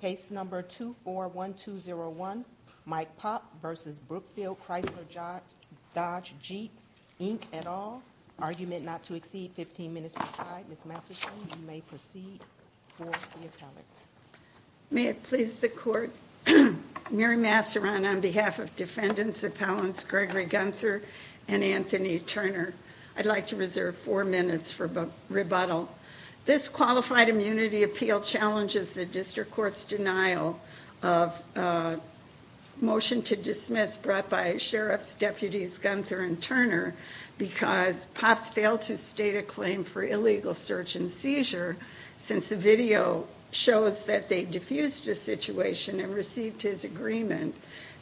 Case number 241201, Mike Pop v. Brookfield Chrysler Dodge Jeep Inc, et al. Argument not to exceed 15 minutes per side. Ms. Masserton, you may proceed for the appellate. May it please the court, Mary Masseron on behalf of defendants appellants Gregory Gunther and Anthony Turner, I'd like to reserve four minutes for rebuttal. This qualified immunity appeal challenges the district court's denial of a motion to dismiss brought by sheriffs, deputies Gunther and Turner because Pops failed to state a claim for illegal search and seizure since the video shows that they diffused the situation and received his agreement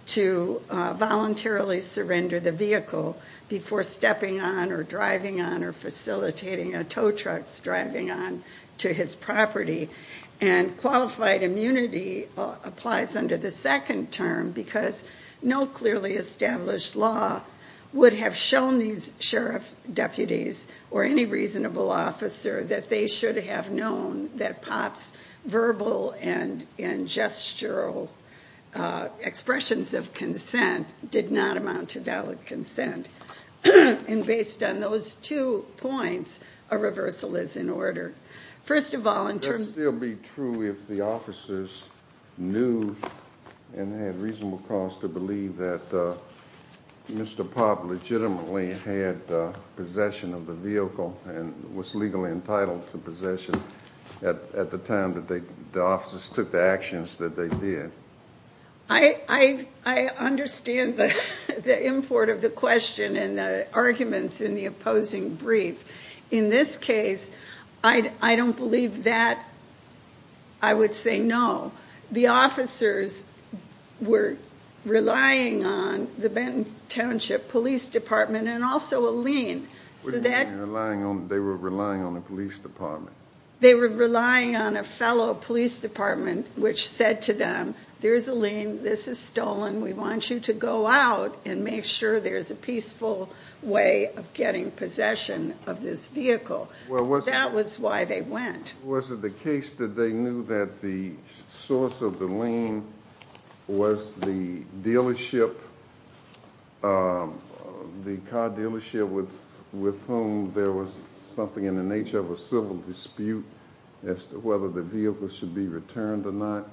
to voluntarily surrender the vehicle before stepping on or driving on or facilitating a tow truck's driving on to his property. And qualified immunity applies under the second term because no clearly established law would have shown these sheriff's deputies or any reasonable officer that they should have known that Pops verbal and gestural expressions of did not amount to valid consent. And based on those two points, a reversal is in order. First of all, it would still be true if the officers knew and had reasonable cause to believe that Mr. Pop legitimately had possession of the vehicle and was legally entitled to possession at the time that the officers took the actions that they did. I understand the import of the question and the arguments in the opposing brief. In this case, I don't believe that. I would say no. The officers were relying on the Benton Township Police Department and also a lien. So they were relying on the police department? They were relying on a fellow police department which said to them, there's a lien, this is stolen, we want you to go out and make sure there's a peaceful way of getting possession of this vehicle. That was why they went. Was it the case that they knew that the source of the lien was the dealership, the car dealership with whom there was something in the nature of a civil dispute as to whether the vehicle should be returned or not?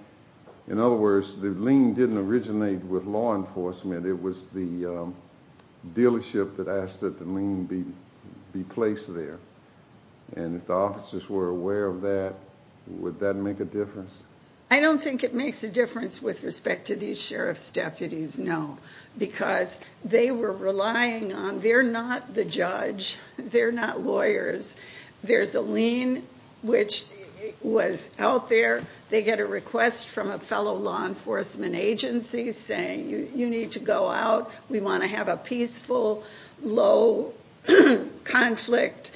In other words, the lien didn't originate with law enforcement. It was the dealership that asked that the lien be placed there. And if the officers were aware of that, would that make a difference? I don't think it makes a difference with respect to these sheriff's deputies, no. Because they were relying on, they're not the judge, they're not lawyers. There's a lien which was out there. They get a request from a fellow law enforcement agency saying you need to go out. We want to have a peaceful, low conflict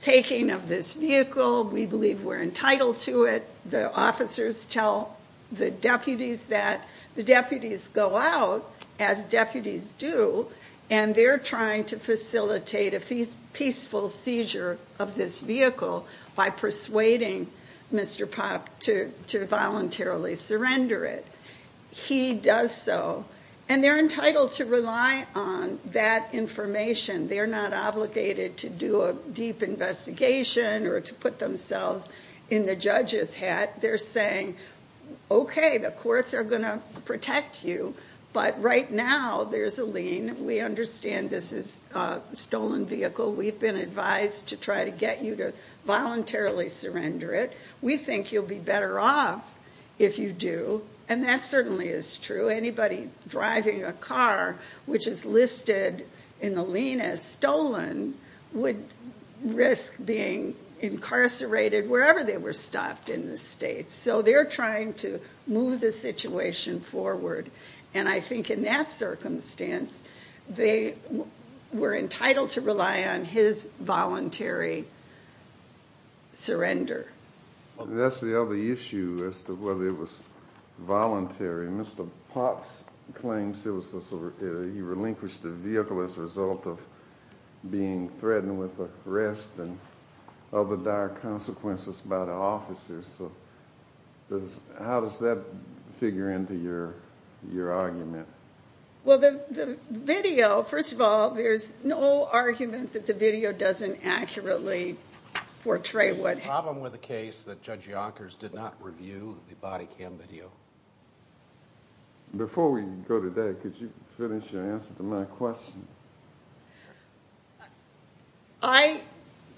taking of this vehicle. We believe we're entitled to it. The officers tell the deputies that. The deputies go out, as deputies do, and they're trying to facilitate a peaceful seizure of this vehicle by persuading Mr. Popp to voluntarily surrender it. He does so. And they're entitled to rely on that information. They're not obligated to do a deep investigation or to put themselves in the judge's hat. They're saying, okay, the courts are going to protect you. But right now, there's a lien. We understand this is a stolen vehicle. We've been advised to try to get you to voluntarily surrender it. We think you'll be better off if you do. And that certainly is true. Anybody driving a car, which is listed in the lien as stolen, would risk being incarcerated wherever they were stopped in the state. So they're trying to move the situation forward. And I think in that circumstance, they were entitled to rely on his voluntary surrender. That's the other issue, as to whether it was voluntary. Mr. Popp claims he relinquished the vehicle as a result of being threatened with arrest and other dire consequences by the officers. How does that figure into your argument? Well, the video, first of all, there's no argument that the video doesn't accurately portray what happened. There's a problem with a case that Judge Yonkers did not review the body cam video. Before we go to that, could you finish your answer to my question? I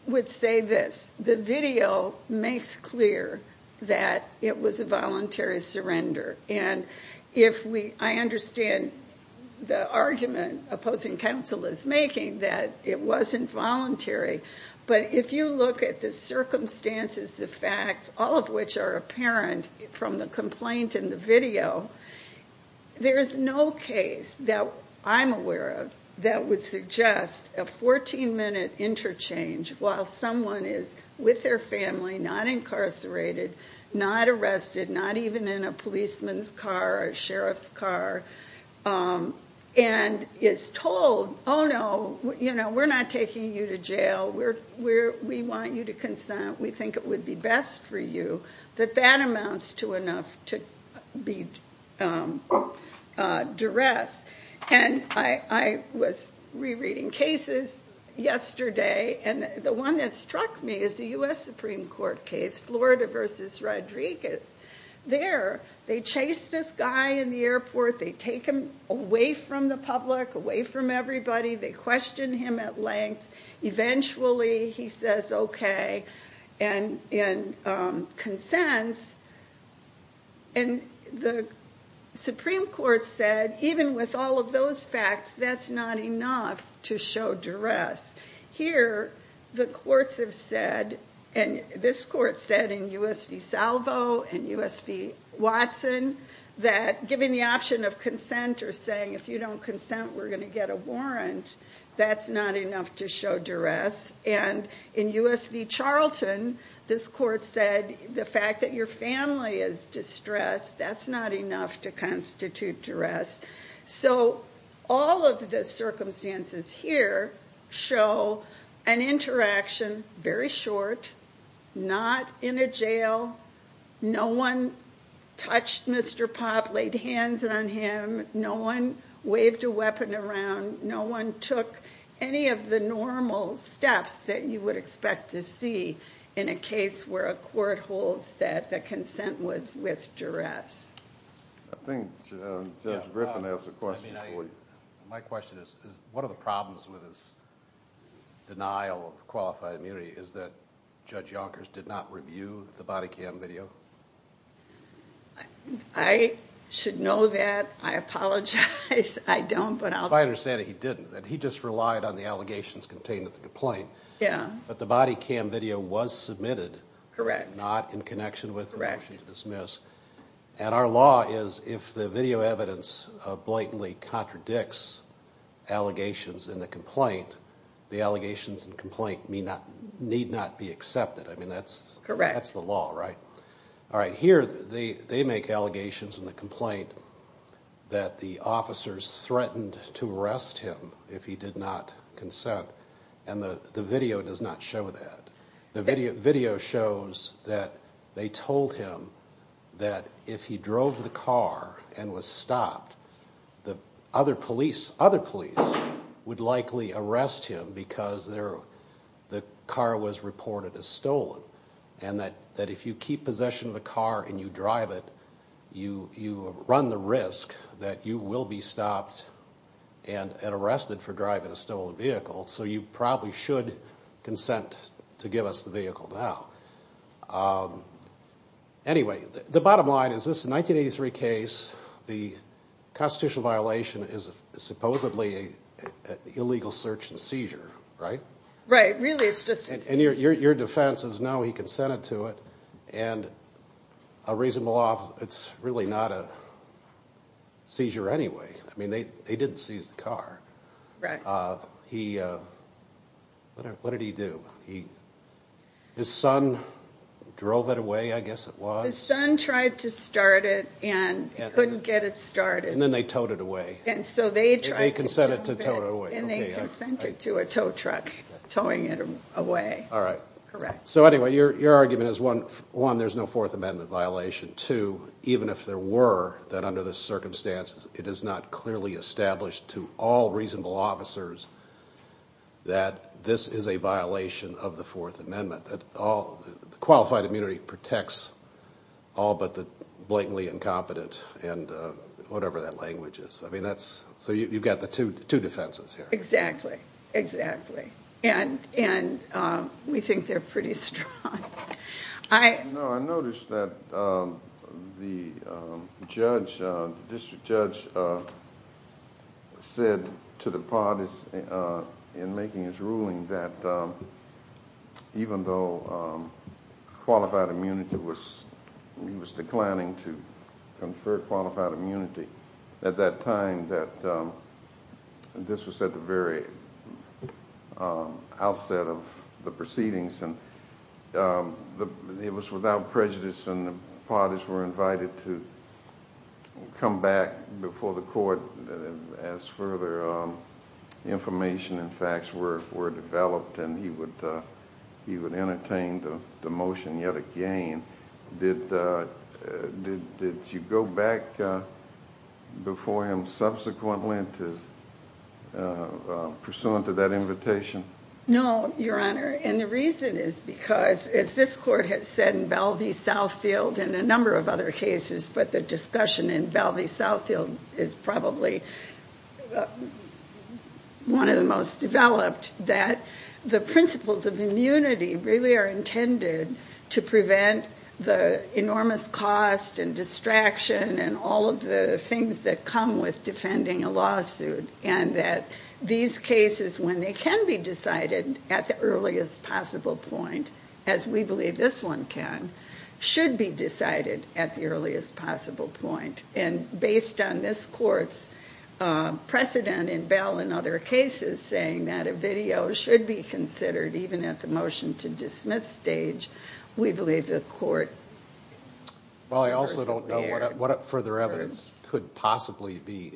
would say this. The video makes clear that it was a voluntary surrender. And I understand the argument opposing counsel is making that it wasn't voluntary. But if you look at the circumstances, the facts, all of which are apparent from the complaint in the video, there is no case that I'm aware of that would suggest a 14-minute interchange while someone is with their family, not incarcerated, not arrested, not even in a policeman's car, a sheriff's car, and is told, oh, no, we're not taking you to jail. We want you to consent. We think it would be best for you. That that amounts to enough to be duress. And I was rereading cases yesterday. And the one that struck me is the U.S. Supreme Court case, Florida v. Rodriguez. There, they chase this guy in the airport. They take him away from the public, away from everybody. They question him at length. Eventually, he says, okay, and consents. And the Supreme Court said, even with all of those facts, that's not enough to show duress. Here, the courts have said, and this court said in U.S. v. Salvo and U.S. v. Watson, that given the option of consent or saying if you don't consent, we're going to get a warrant, that's not enough to show duress. And in U.S. v. Charlton, this court said the fact that your family is distressed, that's not enough to constitute duress. So all of the circumstances here show an interaction, very short, not in a jail. No one touched Mr. Popp, laid hands on him. No one waved a weapon around. No one took any of the normal steps that you would expect to see in a case where a court holds that the consent was with duress. I think Judge Griffin has a question for you. My question is, one of the problems with this denial of qualified immunity is that Judge Yonkers did not review the body cam video. I should know that. I apologize. I don't, but I'll... If I understand it, he didn't. He just relied on the allegations contained in the complaint. Yeah. But the body cam video was submitted. Correct. Not in connection with the motion to dismiss. And our law is, if the video evidence blatantly contradicts allegations in the complaint, the allegations in the complaint need not be accepted. I mean, that's the law, right? Correct. All right. Here, they make allegations in the complaint that the officers threatened to arrest him if he did not consent, and the video does not show that. The video shows that they told him that if he drove the car and was stopped, the other police would likely arrest him because the car was reported as stolen, and that if you keep possession of a car and you drive it, you run the risk that you will be stopped and arrested for driving a stolen vehicle, so you probably should consent to give us the vehicle now. Anyway, the bottom line is this 1983 case, the constitutional violation is supposedly an illegal search and seizure, right? Right. Really, it's just... And your defense is, no, he consented to it, and a reasonable law, it's really not a seizure anyway. I mean, they didn't seize the car. Right. What did he do? His son drove it away, I guess it was. His son tried to start it and couldn't get it started. And then they towed it away. And so they tried to... And he consented to tow it away. And they consented to a tow truck towing it away. All right. Correct. So anyway, your argument is, one, there's no Fourth Amendment violation, two, even if there were, that under the circumstances, it is not clearly established to all reasonable officers that this is a violation of the Fourth Amendment, that qualified immunity protects all but the blatantly incompetent and whatever that language is. So you've got the two defenses here. Exactly, exactly. And we think they're pretty strong. No, I noticed that the district judge said to the parties in making his ruling that even though qualified immunity was... He was declining to confer qualified immunity at that time that this was at the very outset of the proceedings. And it was without prejudice, and the parties were invited to come back before the court as further information and facts were developed. And he would entertain the motion yet again. Did you go back before him subsequently pursuant to that invitation? No, Your Honor. And the reason is because, as this court had said in Belvey Southfield and a number of other cases, but the discussion in Belvey Southfield is probably one of the most developed, that the principles of immunity really are intended to prevent the enormous cost and distraction and all of the things that come with defending a lawsuit. And that these cases, when they can be decided at the earliest possible point, as we believe this one can, should be decided at the earliest possible point. And based on this court's precedent in Bell and other cases saying that a video should be considered even at the motion to dismiss stage, we believe the court... Well, I also don't know what further evidence could possibly be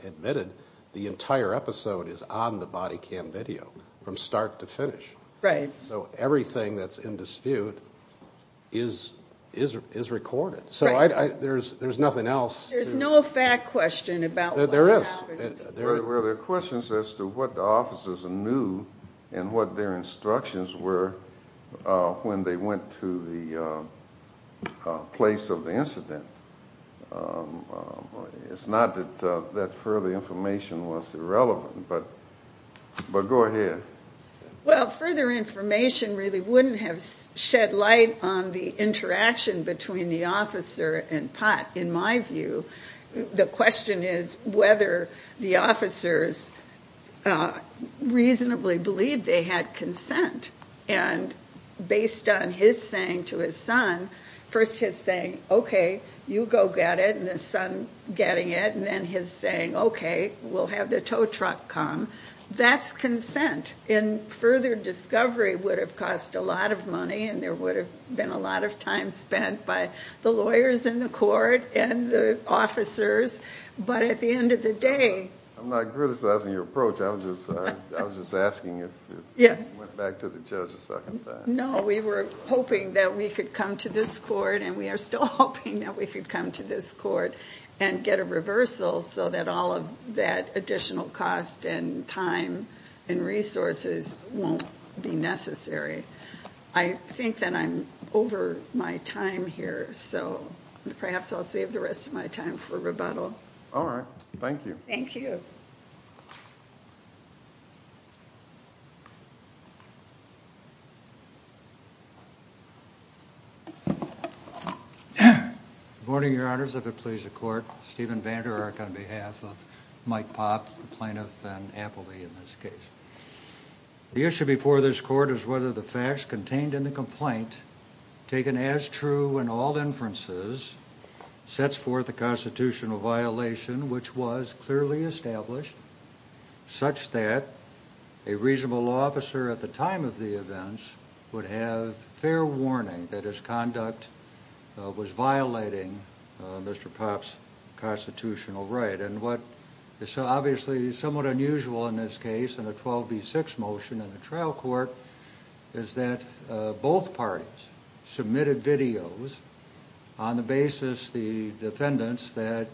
admitted. The entire episode is on the body cam video from start to finish. So everything that's in dispute is recorded. So there's nothing else. There's no fact question about what happened. Were there questions as to what the officers knew and what their instructions were when they went to the place of the incident? It's not that further information was irrelevant, but go ahead. Well, further information really wouldn't have shed light on the interaction between the officer and Pott, in my view. The question is whether the officers reasonably believed they had consent. And based on his saying to his son, first his saying, okay, you go get it, and the son getting it, and then his saying, okay, we'll have the tow truck come, that's consent. And further discovery would have cost a lot of money, and there would have been a lot of time spent by the lawyers in the court and the officers. But at the end of the day... I'm not criticizing your approach. I was just asking if you went back to the judge a second time. No, we were hoping that we could come to this court, and we are still hoping that we could come to this court and get a reversal so that all of that additional cost and time and resources won't be necessary. I think that I'm over my time here, so perhaps I'll save the rest of my time for rebuttal. All right. Thank you. Thank you. Good morning, your honors. If it please the court, Stephen VanderArk on behalf of Mike Pott, the plaintiff, and Appleby in this case. The issue before this court is whether the facts contained in the complaint, taken as true in all inferences, sets forth a constitutional violation which was clearly established such that a reasonable law officer at the time of the events would have fair warning that his conduct was violating Mr. Pott's constitutional right. And what is obviously somewhat unusual in this case, in a 12b6 motion in the trial court, is that both parties submitted videos on the basis, the defendants, that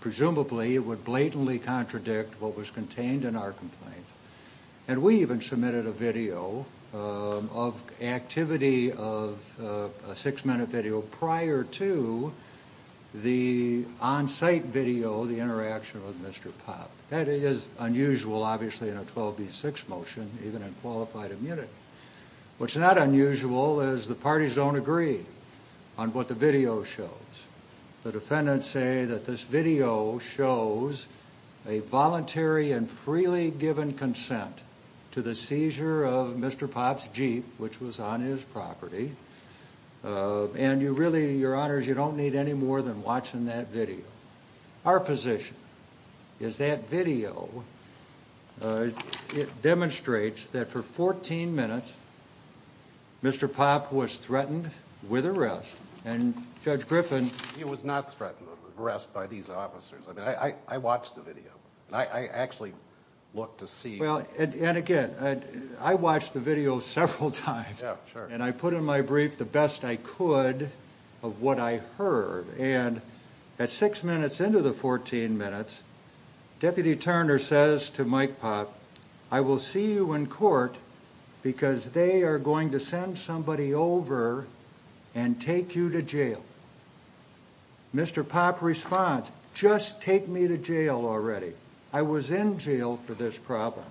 presumably would blatantly contradict what was contained in our complaint. And we even submitted a video of activity of a six-minute video prior to the on-site video, the interaction with Mr. Pott. That is unusual, obviously, in a case where both parties don't agree on what the video shows. The defendants say that this video shows a voluntary and freely given consent to the seizure of Mr. Pott's Jeep, which was on his property. And you really, your honors, you don't need any more than watching that video. Our position is that video, it demonstrates that for 14 minutes, Mr. Pott was threatened with arrest, and Judge Griffin... He was not threatened with arrest by these officers. I mean, I watched the video. I actually looked to see... Well, and again, I watched the video several times. Yeah, sure. And I put in my the best I could of what I heard. And at six minutes into the 14 minutes, Deputy Turner says to Mike Pott, I will see you in court because they are going to send somebody over and take you to jail. Mr. Pott responds, just take me to jail already. I was in jail for this problem.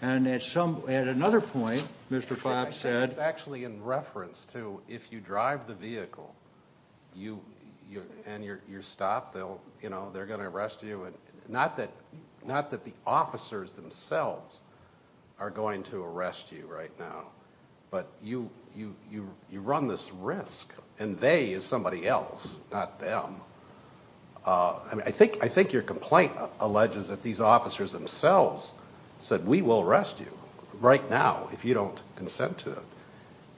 And at another point, Mr. Pott said... Actually, in reference to if you drive the vehicle, and you're stopped, they'll, you know, they're going to arrest you. And not that the officers themselves are going to arrest you right now, but you run this risk, and they is somebody else, not them. I mean, I think your complaint alleges that these officers themselves said, we will arrest you right now if you don't consent to it.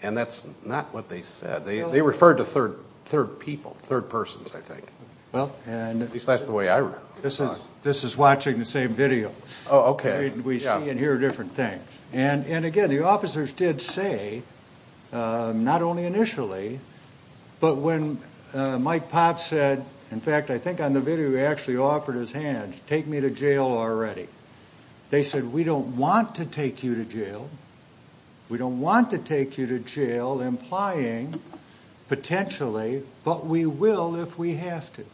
And that's not what they said. They referred to third people, third persons, I think. Well, at least that's the way I read it. This is watching the same video. Oh, okay. We see and hear different things. And again, the officers did say, not only initially, but when Mike Pott said, in fact, I think on the video, he actually offered his hand, take me to jail already. They said, we don't want to take you to jail. We don't want to take you to jail, implying potentially, but we will if we have to.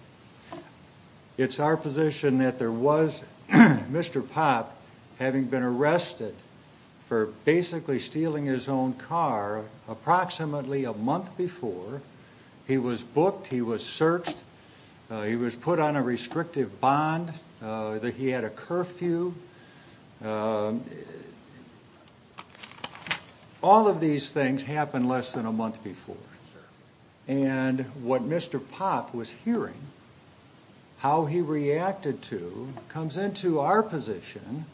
It's our position that there was Mr. Pott having been arrested for basically stealing his own car approximately a month before he was booked, he was searched, he was put on a restrictive bond, that he had a curfew. All of these things happened less than a month before. And what Mr. Pott was hearing, how he reacted to, comes into our position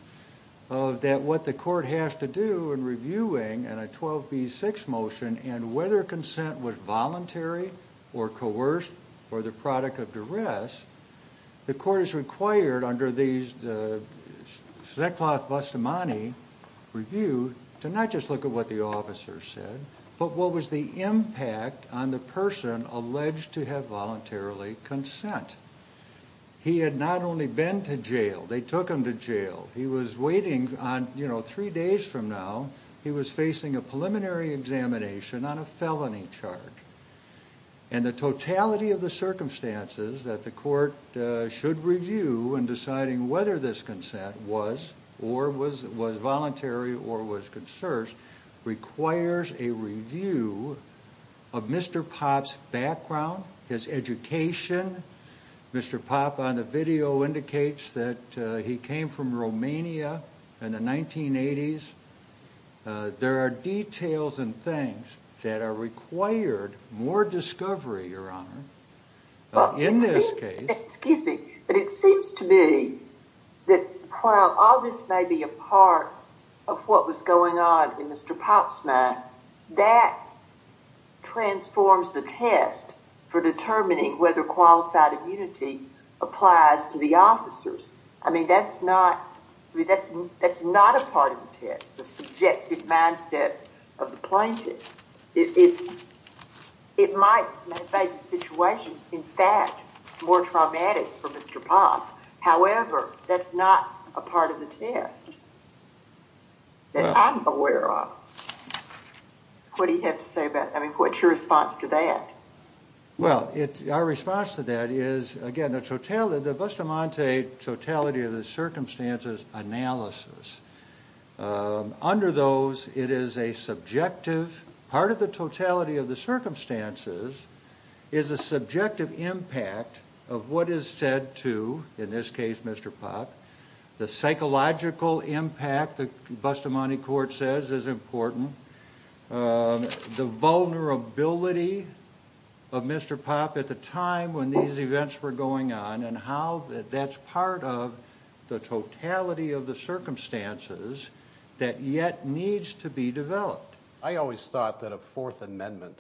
of that what the court has to do in reviewing and a 12b6 motion and whether consent was voluntary or coerced or the product of duress, the court is required under these Zekloff-Bustamante review to not just look at what the officer said, but what was the impact on the person alleged to have voluntarily consent. He had not only been to jail, they took him to jail. He was waiting on, you know, three days from now, he was facing a preliminary examination on a felony charge. And the totality of the circumstances that the court should review in deciding whether this consent was or was voluntary or was coerced requires a review of Mr. Pott's background, his education. Mr. Pott on the video indicates that he came from Romania in the 1980s. There are details and things that are required more discovery, Your Honor, in this case. Excuse me, but it seems to me that while all this may be a part of what was going on in Mr. Pott's mind, that transforms the test for determining whether qualified immunity applies to the I mean, that's not a part of the test, the subjective mindset of the plaintiff. It might make the situation, in fact, more traumatic for Mr. Pott. However, that's not a part of the test that I'm aware of. What do you have to say about, I mean, what's your response to that? Well, it's our response to that is, again, the Bustamante totality of the circumstances analysis. Under those, it is a subjective part of the totality of the circumstances is a subjective impact of what is said to, in this case, Mr. Pott, the psychological impact, Bustamante court says is important. The vulnerability of Mr. Pott at the time when these events were going on and how that's part of the totality of the circumstances that yet needs to be developed. I always thought that a Fourth Amendment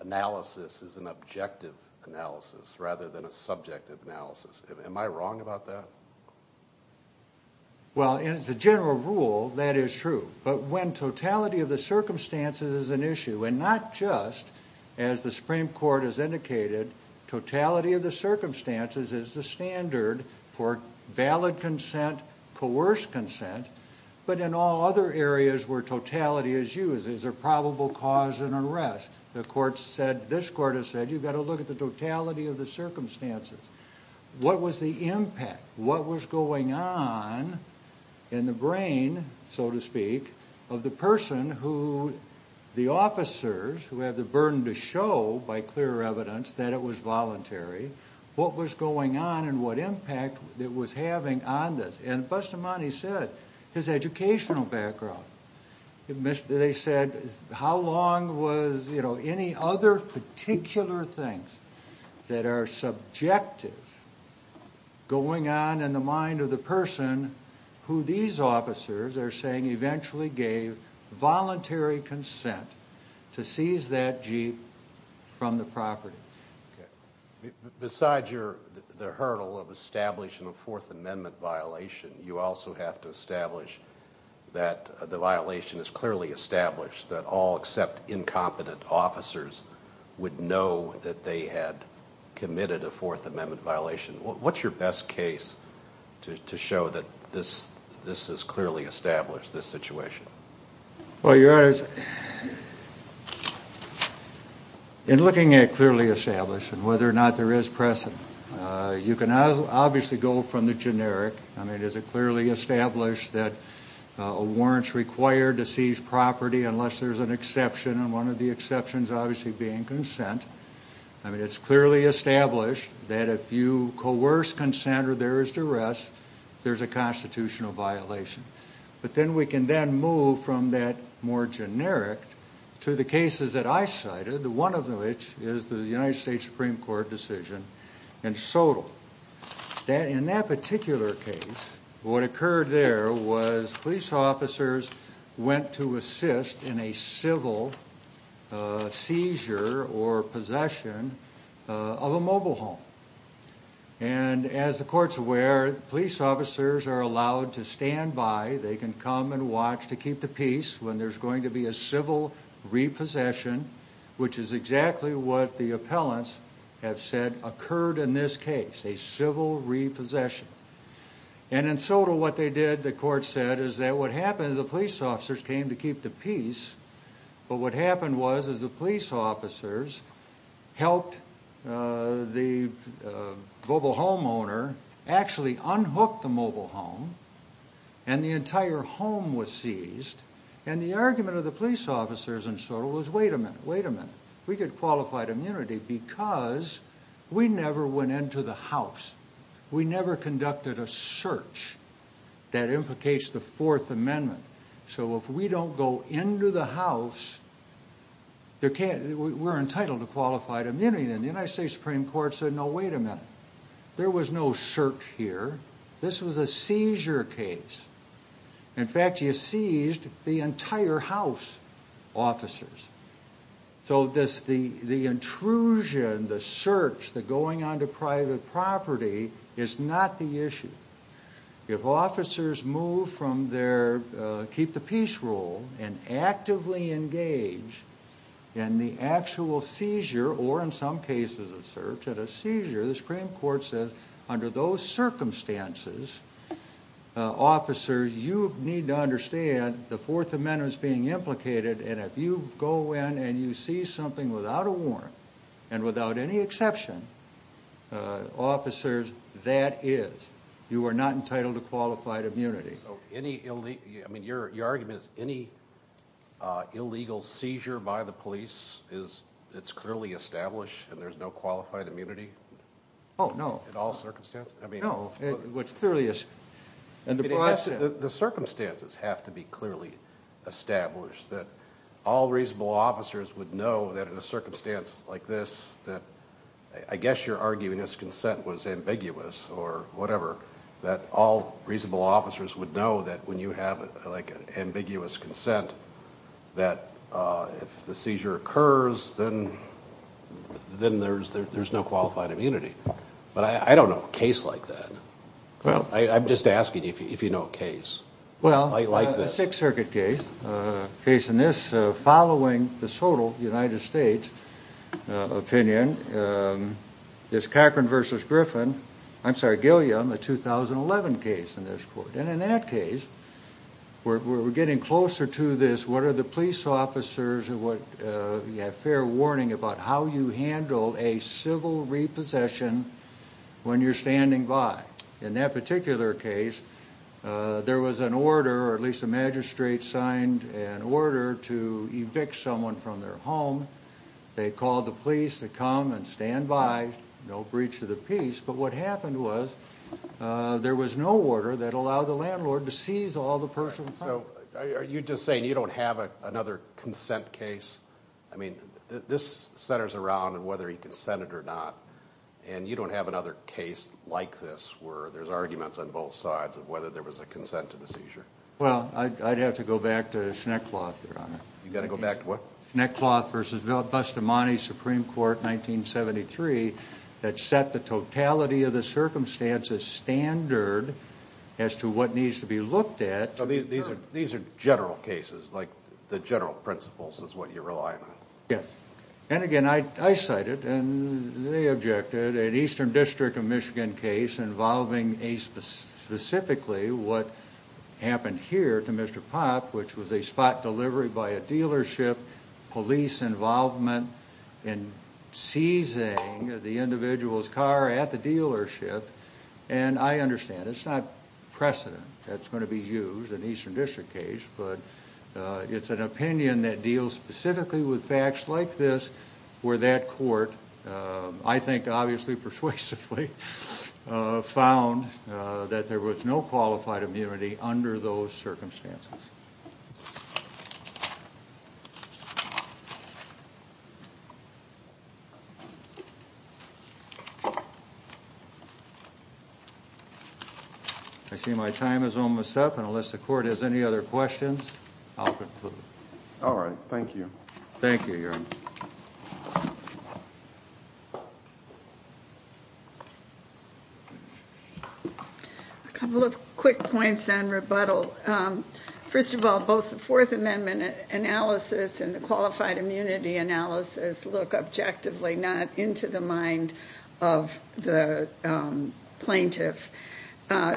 analysis is an objective analysis rather than a subjective analysis. Am I wrong about that? Well, as a general rule, that is true. But when totality of the circumstances is an issue, and not just as the Supreme Court has indicated, totality of the circumstances is the standard for valid consent, coerced consent, but in all other areas where totality is used as a probable cause and unrest. The court said, this court has said, you've got to look at the totality of the circumstances. What was the impact? What was going on in the brain, so to speak, of the person who the officers who have the burden to show by clear evidence that it was voluntary, what was going on and what impact it was having on this. And Bustamante said, his educational are subjective going on in the mind of the person who these officers are saying eventually gave voluntary consent to seize that Jeep from the property. Besides the hurdle of establishing a Fourth Amendment violation, you also have to establish that the violation is clearly established that all except incompetent officers would know that they had committed a Fourth Amendment violation. What's your best case to show that this is clearly established, this situation? Well, Your Honors, in looking at clearly established and whether or not there is present, you can obviously go from the generic. I mean, is it clearly established that a warrant is required to seize property unless there's an exception? And one of the exceptions obviously being consent. I mean, it's clearly established that if you coerce consent or there is duress, there's a constitutional violation. But then we can then move from that more generic to the cases that I cited, one of which is the United States Supreme Court decision in Sotal. In that particular case, what occurred there was police officers went to assist in a civil seizure or possession of a mobile home. And as the court's aware, police officers are allowed to stand by. They can come and watch to keep the peace when there's going to be a civil repossession, which is exactly what the appellants have said occurred in this case, a civil repossession. And in Sotal, what they did, the court said, is that what happened is the police officers came to keep the peace. But what happened was, is the police officers helped the mobile home owner actually unhook the mobile home and the entire home was seized. And the argument of the police officers in Sotal was, wait a minute, wait a minute. We get qualified immunity because we never went into the house. We never conducted a search that implicates the Fourth Amendment. So if we don't go into the house, we're entitled to qualified immunity. And the United States Supreme Court said, no, wait a minute. There was no search here. This was a seizure case. In fact, you seized the entire house officers. So the intrusion, the search, the going onto private property is not the issue. If officers move from their keep the peace rule and actively engage in the actual seizure, or in some cases a search, at a seizure, the Supreme Court says, under those circumstances, officers, you need to understand the Fourth Amendment is being implicated. And if you go in and you see something without a warrant and without any exception, officers, that is, you are not entitled to qualified immunity. So any, I mean, your argument is any illegal seizure by the police is, it's clearly established and there's no qualified immunity? Oh, no. In all circumstances? No, it clearly is. The circumstances have to be clearly established that all reasonable officers would know that in a circumstance like this, that I guess you're arguing this consent was ambiguous or whatever, that all reasonable officers would know that when you have like an ambiguous consent, that if the seizure occurs, then there's no qualified immunity. But I don't know a case like that. I'm just asking if you know a case. Well, a Sixth Circuit case, a case in this, following the total United States opinion, is Cochran v. Griffin, I'm sorry, Gilliam, a 2011 case in this court. And in that case, we're getting closer to this, what are the police officers, you have fair warning about how you handle a civil repossession when you're standing by. In that particular case, there was an order, or at least a magistrate signed an order to evict someone from their home. They called the police to come and stand by, no breach of the peace. But what happened was there was no order that allowed the landlord to seize all the persons. So are you just saying you don't have another consent case? I mean, this centers around whether he consented or not. And you don't have another case like this, where there's arguments on both sides of whether there was a consent to the seizure. Well, I'd have to go back to Schneckloth, Your Honor. You got to go back to what? Schneckloth v. Bustamante, Supreme Court, 1973, that set the totality of the circumstances standard as to what needs to be looked at. These are general cases, like the general principles is what you're relying on. Yes. And again, I cited, and they objected, an Eastern District of Michigan case involving a specifically what happened here to Mr. Popp, which was a spot delivery by a dealership, police involvement in seizing the individual's car at the dealership. And I understand, it's not precedent that's going to be used in an Eastern District case, but it's an opinion that deals specifically with facts like this, where that court, I think, obviously persuasively, found that there was no qualified immunity under those circumstances. I see my time is almost up, and unless the court has any other questions, I'll conclude. All right. Thank you. Thank you, Your Honor. A couple of quick points on rebuttal. First of all, both the Fourth Amendment analysis and qualified immunity analysis look objectively not into the mind of the plaintiff.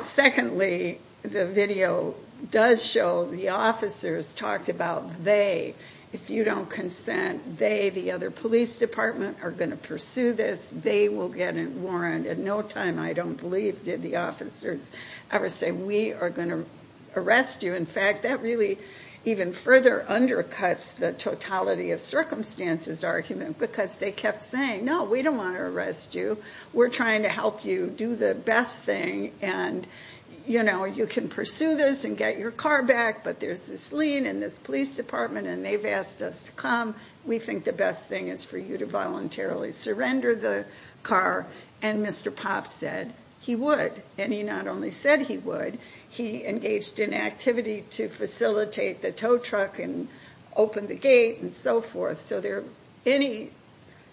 Secondly, the video does show the officers talked about they, if you don't consent, they, the other police department, are going to pursue this. They will get a warrant. At no time, I don't believe, did the officers ever say, we are going to arrest you. In fact, that really even further undercuts the totality of circumstances argument, because they kept saying, no, we don't want to arrest you. We're trying to help you do the best thing. And you can pursue this and get your car back, but there's this lien in this police department, and they've asked us to come. We think the best thing is for you to voluntarily surrender the car. And Mr. Popps said he would. And he not only said he would, he engaged in activity to facilitate the tow truck and open the gate and so forth. So there are any,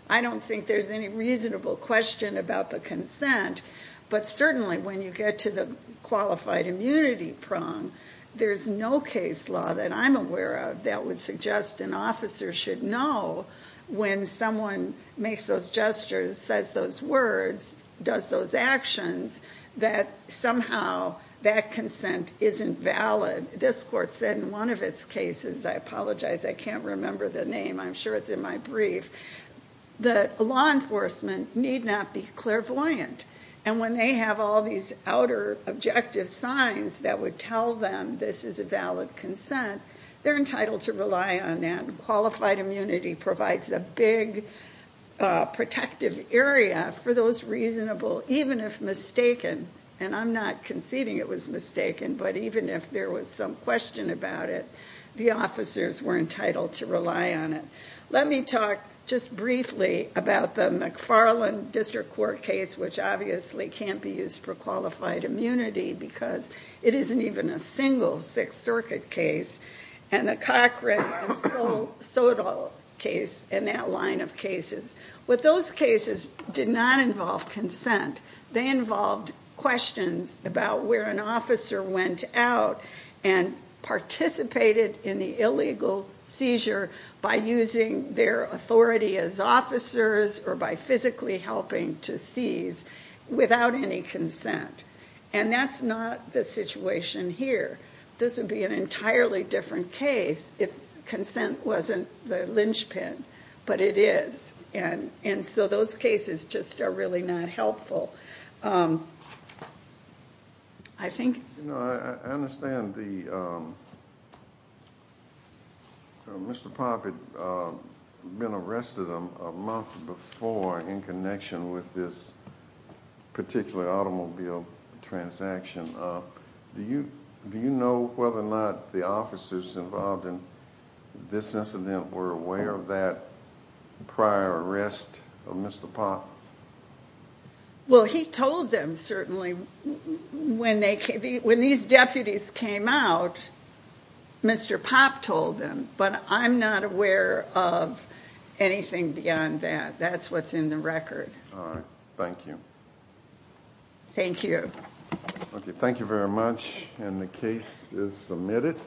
I don't think there's any reasonable question about the consent, but certainly when you get to the qualified immunity prong, there's no case law that I'm aware of that would suggest an officer should know when someone makes those gestures, says those words, does those actions, that somehow that consent isn't valid. This court said in one of its cases, I apologize, I can't remember the name. I'm sure it's in my brief. The law enforcement need not be clairvoyant. And when they have all these outer objective signs that would tell them this is a valid consent, they're entitled to rely on that. Qualified immunity provides a big protective area for those reasonable, even if mistaken, and I'm not conceding it was mistaken, but even if there was some question about it, the officers were entitled to rely on it. Let me talk just briefly about the McFarland District Court case, which obviously can't be used for qualified immunity because it isn't even a single Sixth Circuit case. And the Cochran and Sodal case, and that line of cases, with those cases did not involve consent. They involved questions about where an officer went out and participated in the illegal seizure by using their authority as officers or by physically helping to seize without any consent. And that's not the situation here. This would be an entirely different case if consent wasn't the linchpin, but it is. And so those cases just are really not helpful. I understand Mr. Poppett had been arrested a month before in connection with this particular automobile transaction. Do you know whether or not the officers involved in this incident were aware of that prior arrest of Mr. Popp? Well, he told them, certainly. When these deputies came out, Mr. Popp told them, but I'm not aware of anything beyond that. That's what's in the record. All right. Thank you. Thank you. Okay. Thank you very much. And the case is submitted.